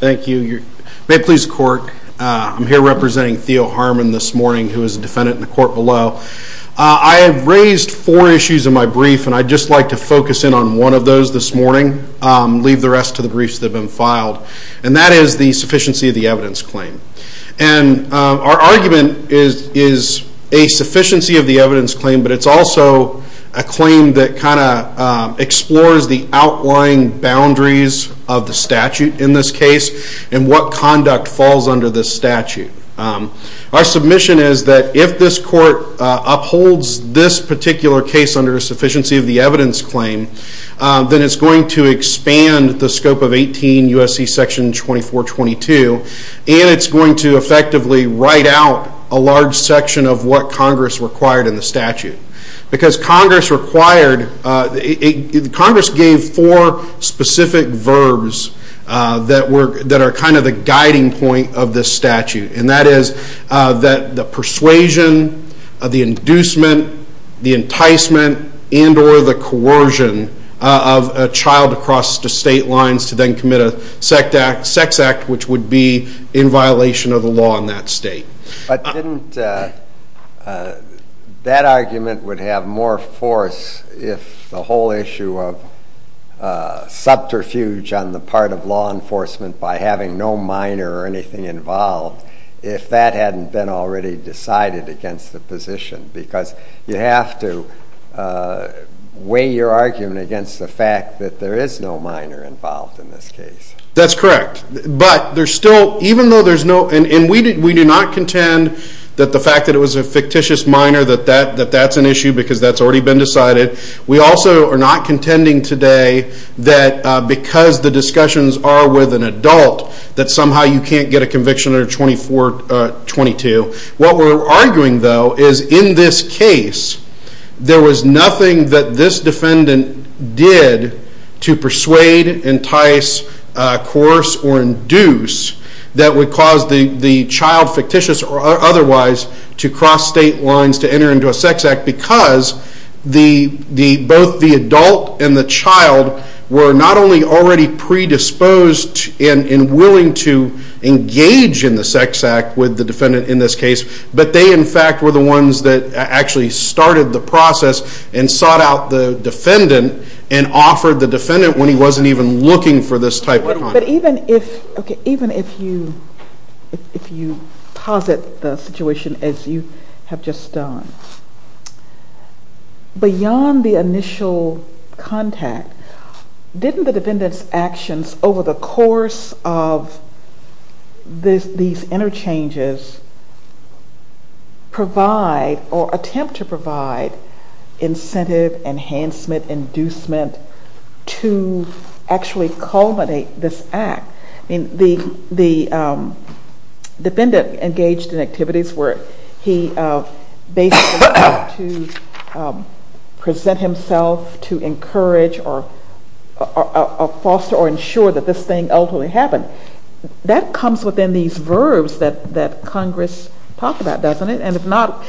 Thank you. May it please the court, I'm here representing Theodore Harmon this morning who is a defendant in the court below. I have raised four issues in my brief and I'd just like to focus in on one of those this morning, leave the rest to the briefs that have been claim. And our argument is a sufficiency of the evidence claim but it's also a claim that kind of explores the outlying boundaries of the statute in this case and what conduct falls under this statute. Our submission is that if this court upholds this particular case under a sufficiency of the evidence claim, then it's going to expand the scope of 18 U.S.C. section 2422 and it's going to effectively write out a large section of what Congress required in the statute. Because Congress required, Congress gave four specific verbs that are kind of the guiding point of this statute and that is the persuasion, the inducement, the enticement and or the coercion of a child across the state lines to then commit a sex act which would be in violation of the law in that state. But didn't that argument would have more force if the whole issue of subterfuge on the part of law enforcement by having no minor or anything involved if that hadn't been already decided against the position? Because you have to weigh your argument against the fact that there is no minor involved in this case. That's correct, but there's still even though there's no and we do not contend that the fact that it was a fictitious minor that that's an issue because that's already been decided. We also are not contending today that because the discussions are with an adult that somehow you can't get a conviction under 2422. What we're arguing though is in this case there was nothing that this defendant did to persuade, entice, coerce or induce that would cause the the child fictitious or otherwise to cross state lines to enter into a sex act because the the both the adult and the child were not only already predisposed and willing to engage in the sex act with the defendant in this case but they in fact were the ones that actually started the process and sought out the defendant and offered the defendant when he wasn't even looking for this type of. But even if okay even if you if you posit the situation as you have just done. Beyond the initial contact didn't the defendant's actions over the course of these interchanges provide or attempt to provide incentive, enhancement, inducement to actually culminate this act. I mean the the defendant engaged in activities where he basically had to present himself to encourage or foster or ensure that this thing ultimately happened. That comes within these verbs that that Congress talks about doesn't it and if not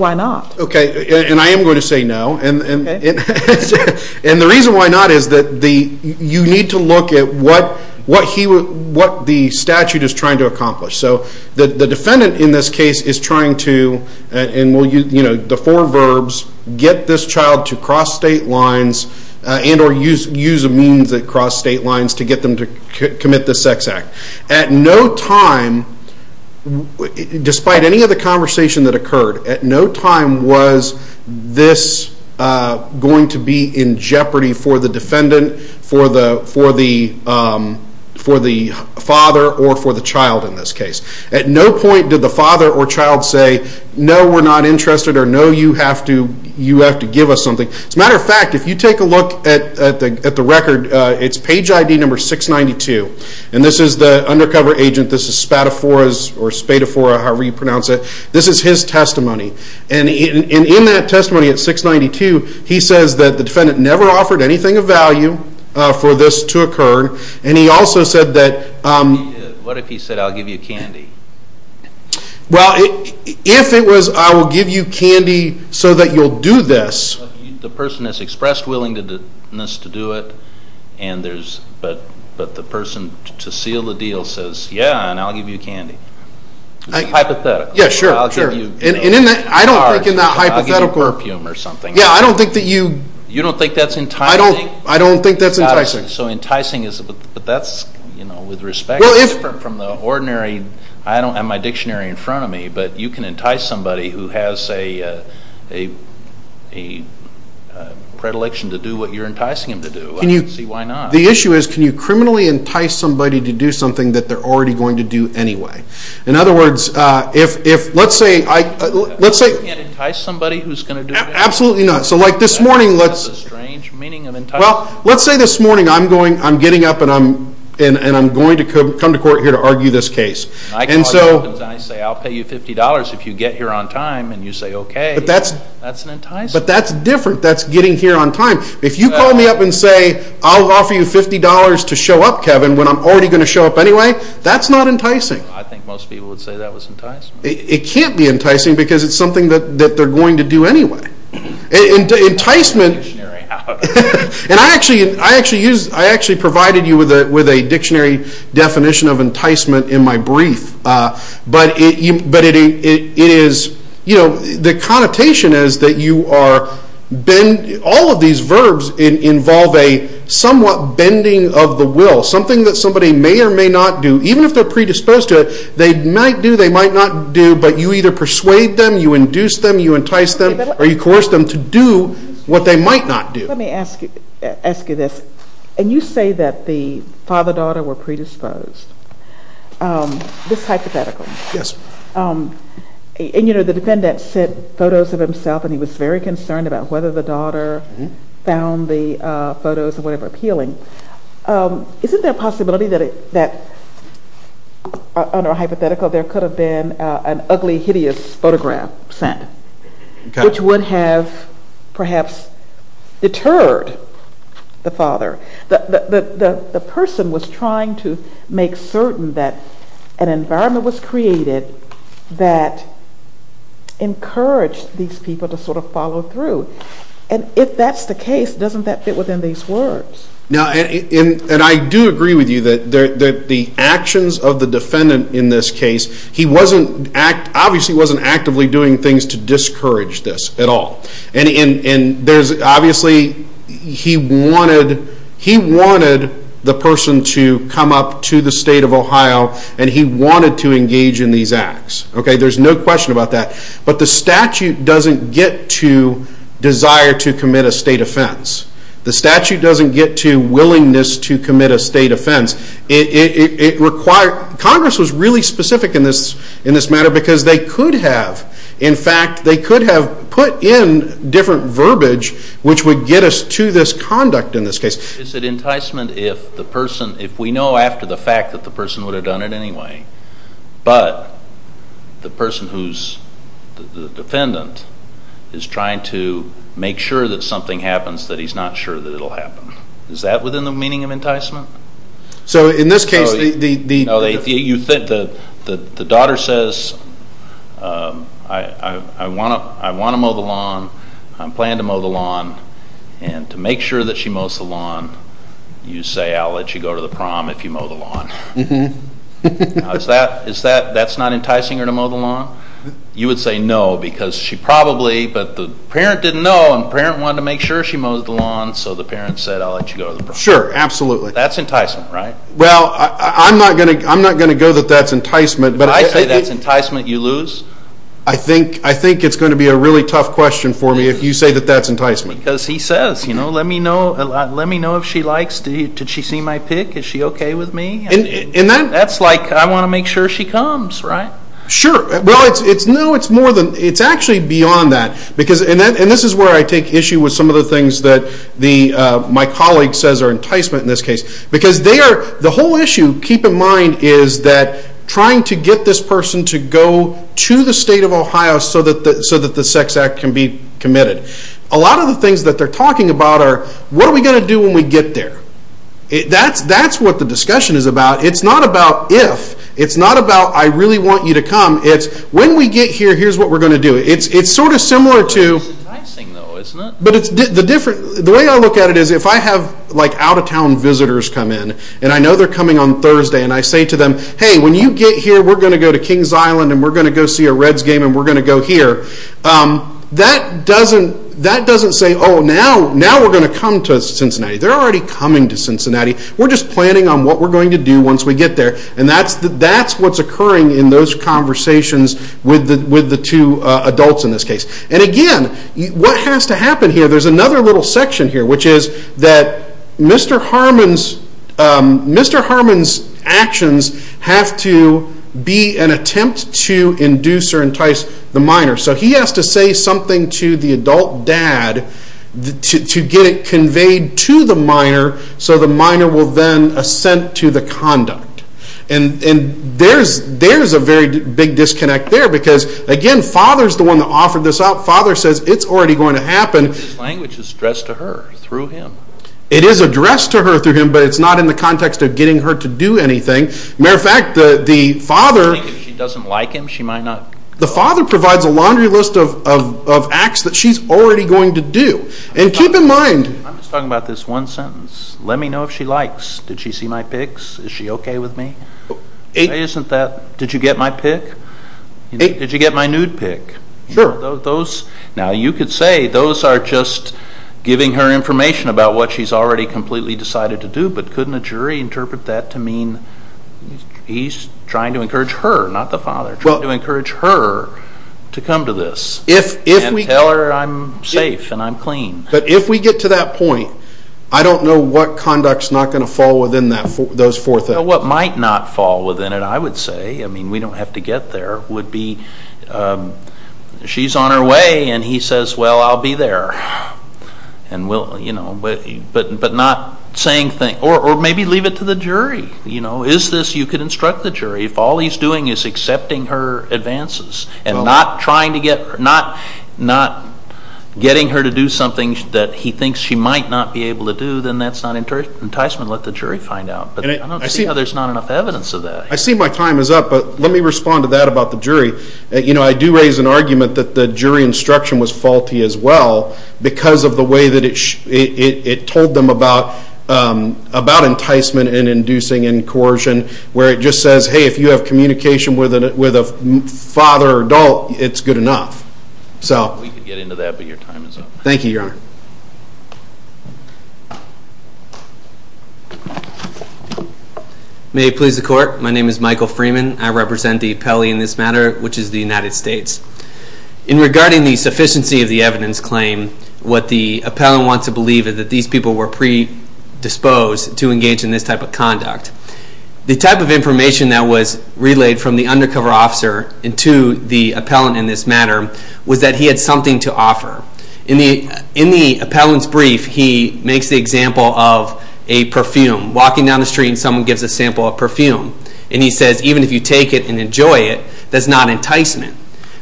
why not? Okay and I am going to say no and and the reason why not is that the you need to look at what what he would what the statute is trying to accomplish. So the defendant in this case is trying to and will you know the four verbs get this child to cross state lines and or use use a means that cross state lines to get them to commit the sex act. At no time despite any of the conversation that occurred at no time was this going to be in jeopardy for the defendant for the for the for the father or for the child in this case. At no point did the father or child say no we're not interested or no you have to you have to give us something. As a matter of fact if you take a look at the at the record it's page ID number 692 and this is the undercover agent this Spadaforas or Spadafora however you pronounce it this is his testimony and in in that testimony at 692 he says that the defendant never offered anything of value for this to occur and he also said that. What if he said I'll give you candy? Well if it was I will give you candy so that you'll do this. The person has expressed willingness to do it and there's but but the person to seal the deal says yeah and I'll give you candy. Hypothetically. Yeah sure sure and in that I don't think in that hypothetical. I'll give you perfume or something. Yeah I don't think that you. You don't think that's enticing? I don't I don't think that's enticing. So enticing is but that's you know with respect. Well if. From the ordinary I don't have my dictionary in front of me but you can entice somebody who has a a a predilection to do what you're enticing him to do. Can you. See why not. The issue is can you entice somebody to do something that they're already going to do anyway. In other words if if let's say let's say. You can't entice somebody who's going to do it? Absolutely not. So like this morning let's. That's a strange meaning of enticing. Well let's say this morning I'm going I'm getting up and I'm and and I'm going to come to court here to argue this case. I call you up and I say I'll pay you fifty dollars if you get here on time and you say okay. But that's. That's an enticing. But that's different that's getting here on time. If you call me up and say I'll offer you fifty dollars to show up Kevin when I'm already going to show up anyway. That's not enticing. I think most people would say that was enticing. It can't be enticing because it's something that that they're going to do anyway. Enticement. And I actually I actually use I actually provided you with a with a dictionary definition of enticement in my brief. But it but it is you know the connotation is that you are bend all of these verbs involve a somewhat bending of the will. Something that somebody may or may not do even if they're predisposed to it. They might do they might not do but you either persuade them you induce them you entice them or you coerce them to do what they might not do. Let me ask you ask you this and you say that the father-daughter were predisposed. This is hypothetical. Yes. And you know the defendant sent photos of himself and he was very concerned about whether the daughter found the photos or whatever appealing. Isn't there a possibility that it that under a hypothetical there could have been an ugly hideous photograph sent which would have perhaps deterred the father. The person was trying to make certain that an environment was created that encouraged these people to sort of follow through. And if that's the case doesn't that fit within these words? Now and I do agree with you that there that the actions of the defendant in this case he wasn't act obviously wasn't actively doing things to discourage this at all. And there's obviously he wanted he wanted the person to come up to the state of Ohio and he wanted to engage in these acts. Okay there's no question about that but the statute doesn't get to desire to commit a state offense. The statute doesn't get to willingness to commit a state offense. It required Congress was really specific in this in this matter because they could have in fact they could have put in different verbiage which would get us to this conduct in this case. Is it enticement if the person if we know after the fact that the person would have done it anyway but the person who's the defendant is trying to make sure that something happens that he's not sure that it'll happen. Is that within the meaning of enticement? So in this case the the you think the the daughter says I want to I want to mow the lawn and to make sure that she mows the lawn you say I'll let you go to the prom if you mow the lawn. Is that is that that's not enticing her to mow the lawn? You would say no because she probably but the parent didn't know and parent wanted to make sure she mowed the lawn so the parent said I'll let you go. Sure absolutely. That's enticement right? Well I'm not gonna I'm not gonna go that that's enticement. But I say that's enticement you lose? I think I think it's going to be a really question for me if you say that that's enticement. Because he says you know let me know let me know if she likes did she see my pic? Is she okay with me? And that's like I want to make sure she comes right? Sure well it's it's no it's more than it's actually beyond that because and that and this is where I take issue with some of the things that the my colleague says are enticement in this case because they are the whole issue keep in mind is that trying to get this person to go to the state of Ohio so that the so that the sex act can be committed. A lot of the things that they're talking about are what are we going to do when we get there? That's that's what the discussion is about it's not about if it's not about I really want you to come it's when we get here here's what we're going to do. It's it's sort of similar to but it's the different the way I look at it is if I have like out-of-town visitors come in and I know they're coming on Thursday and I say to them hey when you get here we're going to go to Kings Island and we're going to go see a Reds game and we're going to go here that doesn't that doesn't say oh now now we're going to come to Cincinnati they're already coming to Cincinnati we're just planning on what we're going to do once we get there and that's that's what's occurring in those conversations with the with the two adults in this case and again what has to happen here there's another little section here which is that Mr. Herman's actions have to be an attempt to induce or entice the minor so he has to say something to the adult dad to get it conveyed to the minor so the minor will then assent to the conduct and and there's there's a very big disconnect there because again father's the one that offered this out father says it's already going to happen. His language is addressed to her through him. It is addressed to her through him but it's not in the context of getting her to do anything matter of fact the the father. If she doesn't like him she might not. The father provides a laundry list of of acts that she's already going to do and keep in mind. I'm just talking about this one sentence let me know if she likes did she see my pics is she okay with me isn't that did you get my pic did you get my nude pic sure those now you could say those are just giving her information about what she's already completely decided to do but couldn't a jury interpret that to mean he's trying to encourage her not the father well to encourage her to come to this if if we tell her I'm safe and I'm clean but if we get to that point I don't know what conducts not going to fall within that for those four things what might not fall within it I would say I mean we don't have to get there would be she's on her way and he says well I'll be there and we'll you know but but not saying things or maybe leave it to the jury you know is this you could instruct the jury if all he's doing is accepting her advances and not trying to get not not getting her to do something that he thinks she might not be able to do then that's not enticement let the jury find out but I don't my time is up but let me respond to that about the jury you know I do raise an argument that the jury instruction was faulty as well because of the way that it it told them about about enticement and inducing in coercion where it just says hey if you have communication with it with a father adult it's good enough so we could get into that but your time is up thank you your honor may please the court my name is Michael Freeman I represent the appellee in this matter which is the United States in regarding the sufficiency of the evidence claim what the appellant wants to believe is that these people were predisposed to engage in this type of conduct the type of information that was relayed from the undercover officer into the appellant in this matter was that in the appellant's brief he makes the example of a perfume walking down the street and someone gives a sample of perfume and he says even if you take it and enjoy it that's not enticement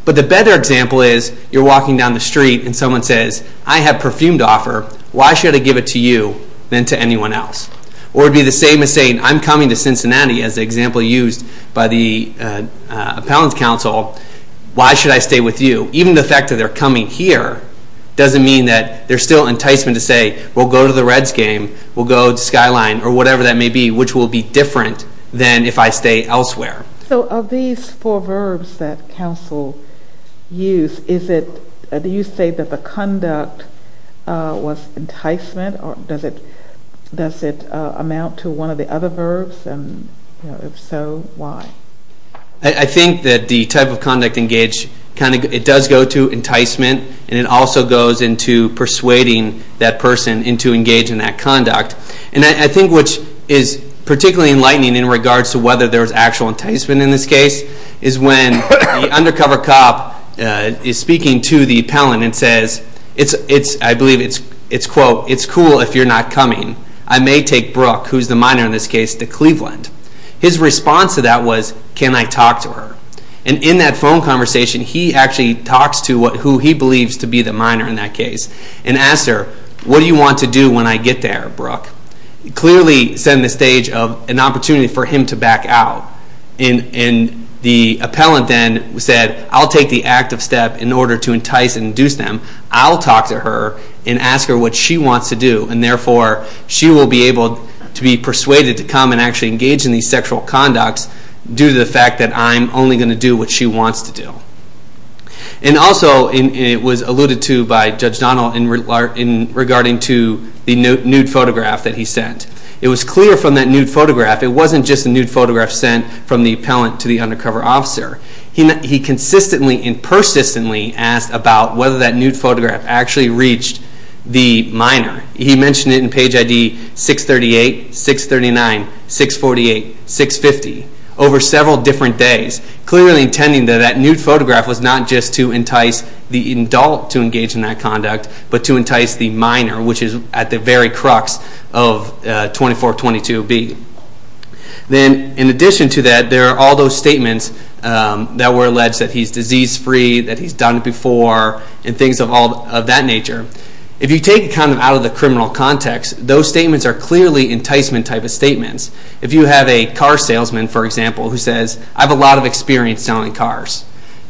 but the better example is you're walking down the street and someone says I have perfume to offer why should I give it to you than to anyone else or it'd be the same as saying I'm coming to Cincinnati as the example used by the appellant's counsel why should I stay with you even the fact that they're coming here doesn't mean that there's still enticement to say we'll go to the Reds game we'll go to Skyline or whatever that may be which will be different than if I stay elsewhere so of these four verbs that counsel use is it do you say that the conduct was enticement or does it does it amount to one of the other verbs and you know if so why I think that the type of conduct engaged kind of it does go to enticement and it also goes into persuading that person into engaging that conduct and I think which is particularly enlightening in regards to whether there's actual enticement in this case is when the undercover cop is speaking to the appellant and says it's it's I believe it's it's quote it's cool if you're not coming I may take Brooke who's the minor in this case to Cleveland his response to that was can I talk to her and in that phone conversation he actually talks to what who he believes to be the minor in that case and asked her what do you want to do when I get there Brooke clearly setting the stage of an opportunity for him to back out in in the appellant then said I'll take the active step in order to entice and induce them I'll talk to her and ask her what she wants to do and therefore she will be able to be persuaded to come and actually engage in these sexual conducts due to the fact that I'm only going to do what she wants to do and also in it was alluded to by Judge Donald in regarding to the nude photograph that he sent it was clear from that nude photograph it wasn't just a nude photograph sent from the appellant to the undercover officer he he consistently and persistently asked about whether that nude photograph actually reached the minor he mentioned it in page id 638 639 648 650 over several different days clearly intending that that nude photograph was not just to entice the adult to engage in that conduct but to entice the minor which is at the very crux of 24 22 b then in addition to that there are all those statements that were alleged that he's disease free that he's done before and things of all of that nature if you take kind of out of the criminal context those statements are clearly enticement type of statements if you have a car salesman for example who says I have a lot of experience selling cars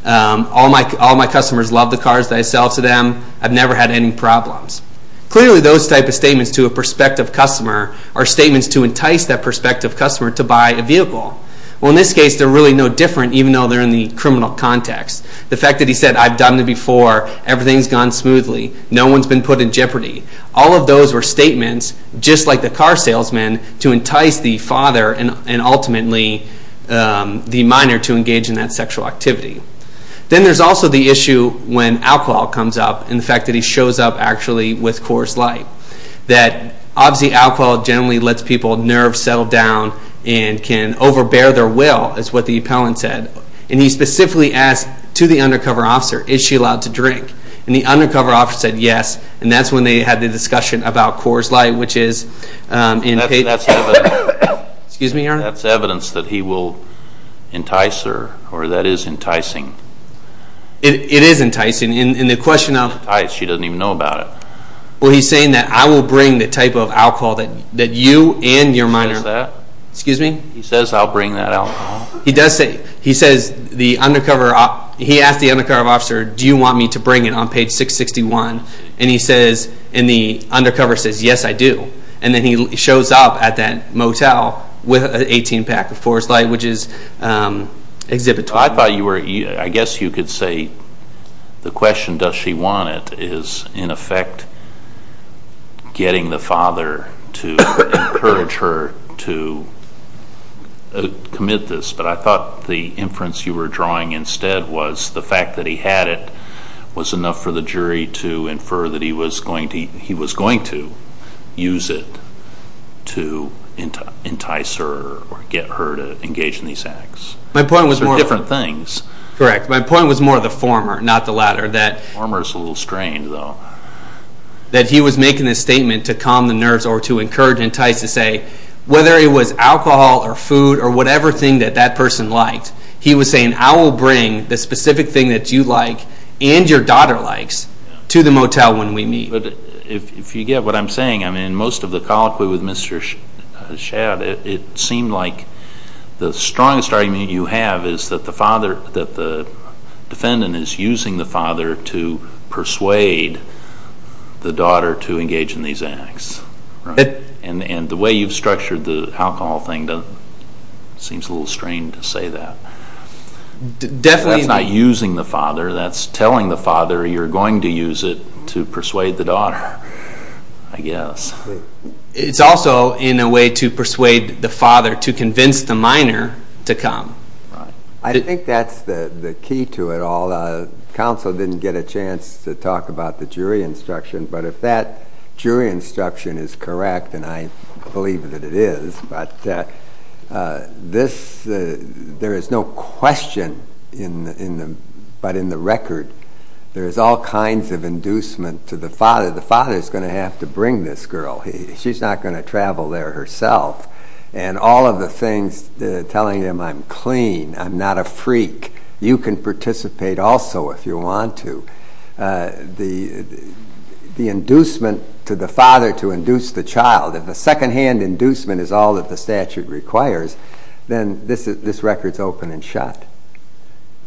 all my all my customers love the cars that I sell to them I've never had any problems clearly those type of statements to a prospective customer are statements to entice that prospective customer to buy a vehicle well they're really no different even though they're in the criminal context the fact that he said I've done it before everything's gone smoothly no one's been put in jeopardy all of those were statements just like the car salesman to entice the father and and ultimately the minor to engage in that sexual activity then there's also the issue when alcohol comes up and the fact that he shows up actually with coarse light that obviously alcohol generally lets people nerve settle down and can overbear their will is what the appellant said and he specifically asked to the undercover officer is she allowed to drink and the undercover officer said yes and that's when they had the discussion about coarse light which is excuse me that's evidence that he will entice her or that is enticing it is enticing in the question of she doesn't even know about it well he's saying that I will bring the type of alcohol that that you and your minor that excuse me he says I'll bring that out he does say he says the undercover he asked the undercover officer do you want me to bring it on page 661 and he says in the undercover says yes I do and then he shows up at that motel with an 18 pack of forest light which is exhibit I thought you were I guess you could say the question does she want it is in effect getting the father to encourage her to commit this but I thought the inference you were drawing instead was the fact that he had it was enough for the jury to infer that he was going to he was going to use it to entice her or get her to engage in these acts my point was more things correct my point was more the former not the latter that former is a little strange though that he was making this statement to calm the nerves or to encourage entice to say whether it was alcohol or food or whatever thing that that person liked he was saying I will bring the specific thing that you like and your daughter likes to the motel when we meet but if you get what I'm saying I mean most of the colloquy with Mr. Shad it seemed like the strongest argument you have is that the father that the defendant is using the father to persuade the daughter to engage in these acts and and the way you've structured the alcohol thing to seems a little strange to say that definitely not using the father that's telling the father you're going to use it to persuade the daughter I guess it's also in a way to persuade the father to convince the minor to come I think that's the the key to it all the council didn't get a chance to talk about the jury instruction but if that jury instruction is correct and I believe that it is but this there is no question in the in the but in the record there is all kinds of inducement to the father the father is going to have to bring this girl he she's not going to travel there herself and all of the things telling him I'm clean I'm not a freak you can participate also if you want to the the inducement to the father to induce the child if the secondhand inducement is all that the statute requires then this is this record's open and shut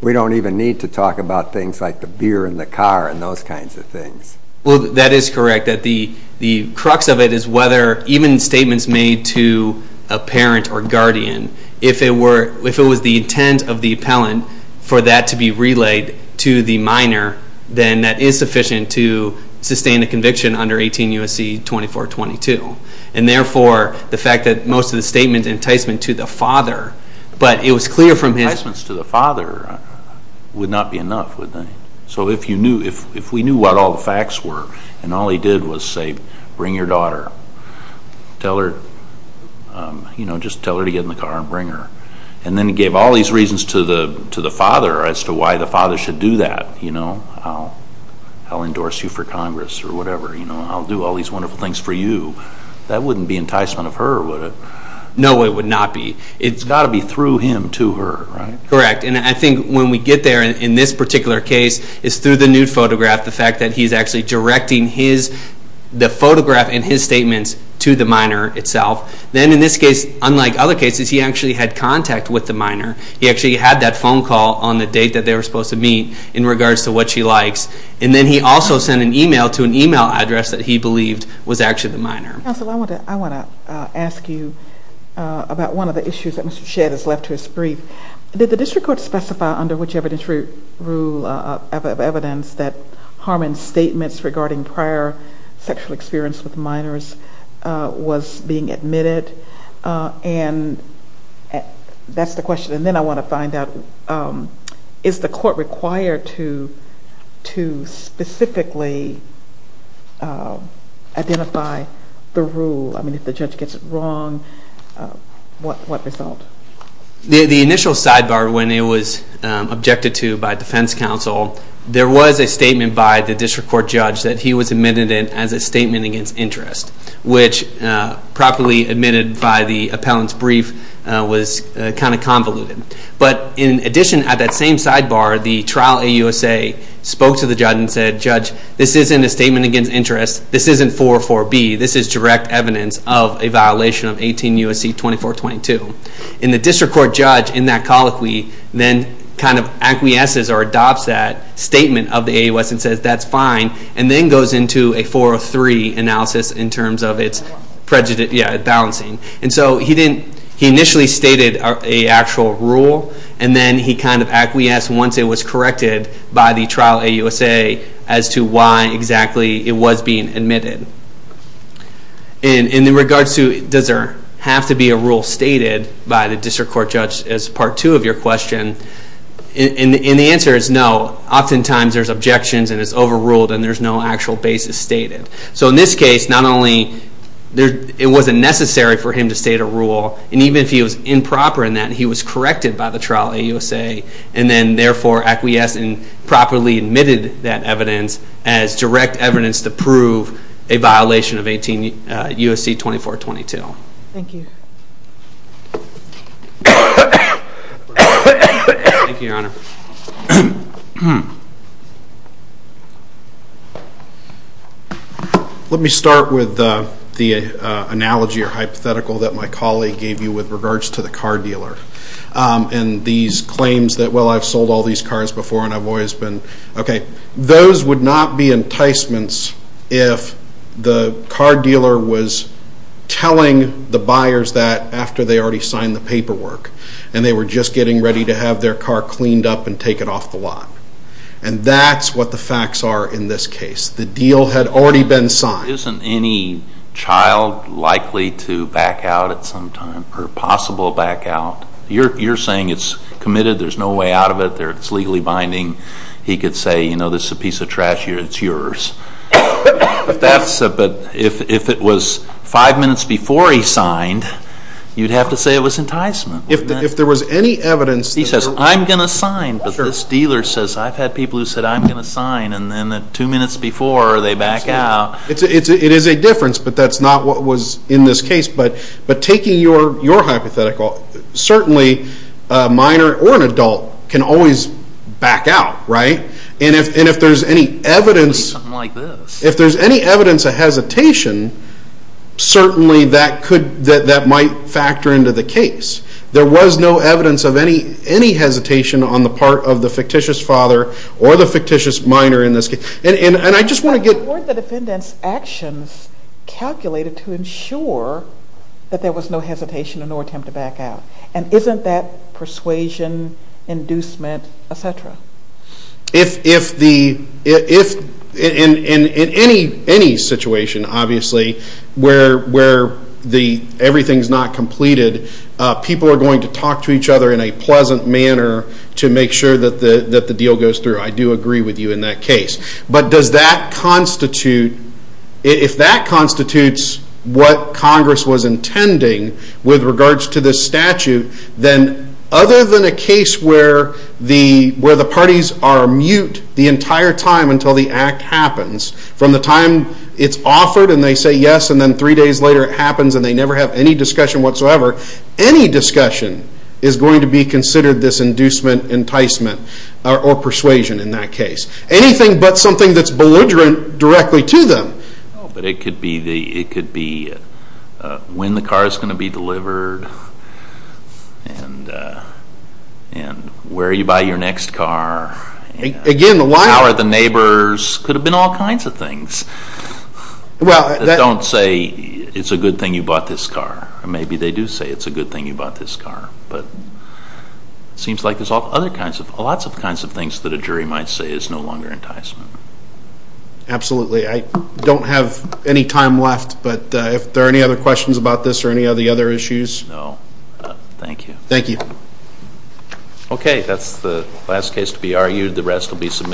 we don't even need to talk about things like the beer and the car and those kinds of things well that is correct that the the crux of it is whether even statements made to a parent or guardian if it were if it was the intent of the appellant for that to be relayed to the minor then that is sufficient to sustain a conviction under 18 U.S.C. 2422 and therefore the fact that most of the statements enticement to the father but it was clear from his enticements to the father would not be enough would they so if you if we knew what all the facts were and all he did was say bring your daughter tell her you know just tell her to get in the car and bring her and then he gave all these reasons to the to the father as to why the father should do that you know I'll I'll endorse you for congress or whatever you know I'll do all these wonderful things for you that wouldn't be enticement of her would it no it would not be it's got to be through him to her right correct and I think when we get there in this particular case is through the nude photograph the fact that he's actually directing his the photograph and his statements to the minor itself then in this case unlike other cases he actually had contact with the minor he actually had that phone call on the date that they were supposed to meet in regards to what she likes and then he also sent an email to an email address that he believed was actually the minor counsel I want to I want to ask you about one of the rule of evidence that Harmon's statements regarding prior sexual experience with minors was being admitted and that's the question and then I want to find out is the court required to to specifically identify the rule I mean if the judge gets it wrong um what what result the the initial sidebar when it was um objected to by defense counsel there was a statement by the district court judge that he was admitted in as a statement against interest which uh properly admitted by the appellant's brief uh was kind of convoluted but in addition at that same sidebar the trial ausa spoke to the judge and said judge this isn't a statement against interest this isn't 404b this is direct evidence of a violation of 18 usc 24 22 and the district court judge in that colloquy then kind of acquiesces or adopts that statement of the a us and says that's fine and then goes into a 403 analysis in terms of its prejudice yeah balancing and so he didn't he initially stated a actual rule and then he kind of acquiesced once it was corrected by the trial ausa as to why exactly it was being admitted and in regards to does there have to be a rule stated by the district court judge as part two of your question and the answer is no oftentimes there's objections and it's overruled and there's no actual basis stated so in this case not only there it wasn't necessary for him to state a rule and even if he was improper in that he was corrected by the trial ausa and then therefore acquiesced and properly admitted that evidence as direct evidence to prove a violation of 18 usc 24 22 thank you thank you your honor hmm let me start with the analogy or hypothetical that my colleague gave you with regards to the car dealer and these claims that well i've sold all these cars before and i've always been okay those would not be enticements if the car dealer was telling the buyers that after they already signed the paperwork and they were just getting ready to have their car cleaned up and take it off the lot and that's what the facts are in this case the deal had already been signed isn't any child likely to back out at some time or possible back out you're you're saying it's committed there's no way out of it there it's legally binding he could say you know this is a piece of trash here it's yours but that's but if if it was five minutes before he signed you'd have to say it was enticement if there was any evidence he says i'm gonna sign but this dealer says i've had people who said i'm gonna sign and then the two minutes before they back out it's it's it is a difference but that's not what was in this case but but taking your your hypothetical certainly a minor or an adult can always back out right and if and if there's any evidence something like this if there's any evidence of hesitation certainly that could that might factor into the case there was no evidence of any any hesitation on the part of the fictitious father or the fictitious minor in this case and and i just want to get the defendant's actions calculated to ensure that there was no hesitation or attempt to back out and isn't that persuasion inducement etc if if the if in in in any any situation obviously where where the everything's not completed uh people are going to talk to each other in a pleasant manner to make sure that the that the deal goes through i do agree with you in that case but does that constitute if that constitutes what congress was intending with regards to this statute then other than a case where the where the parties are mute the entire time until the act happens from the time it's offered and they say yes and then three days later it happens and they never have any discussion whatsoever any discussion is going to be considered this inducement enticement or persuasion in that anything but something that's belligerent directly to them but it could be the it could be when the car is going to be delivered and and where you buy your next car again why are the neighbors could have been all kinds of things well don't say it's a good thing you bought this car maybe they do say it's a good thing you bought this car but it seems like there's all other kinds of lots of kinds of things that a jury might say is no longer enticement absolutely i don't have any time left but if there are any other questions about this or any other issues no thank you thank you okay that's the last case to be argued the rest will be submitted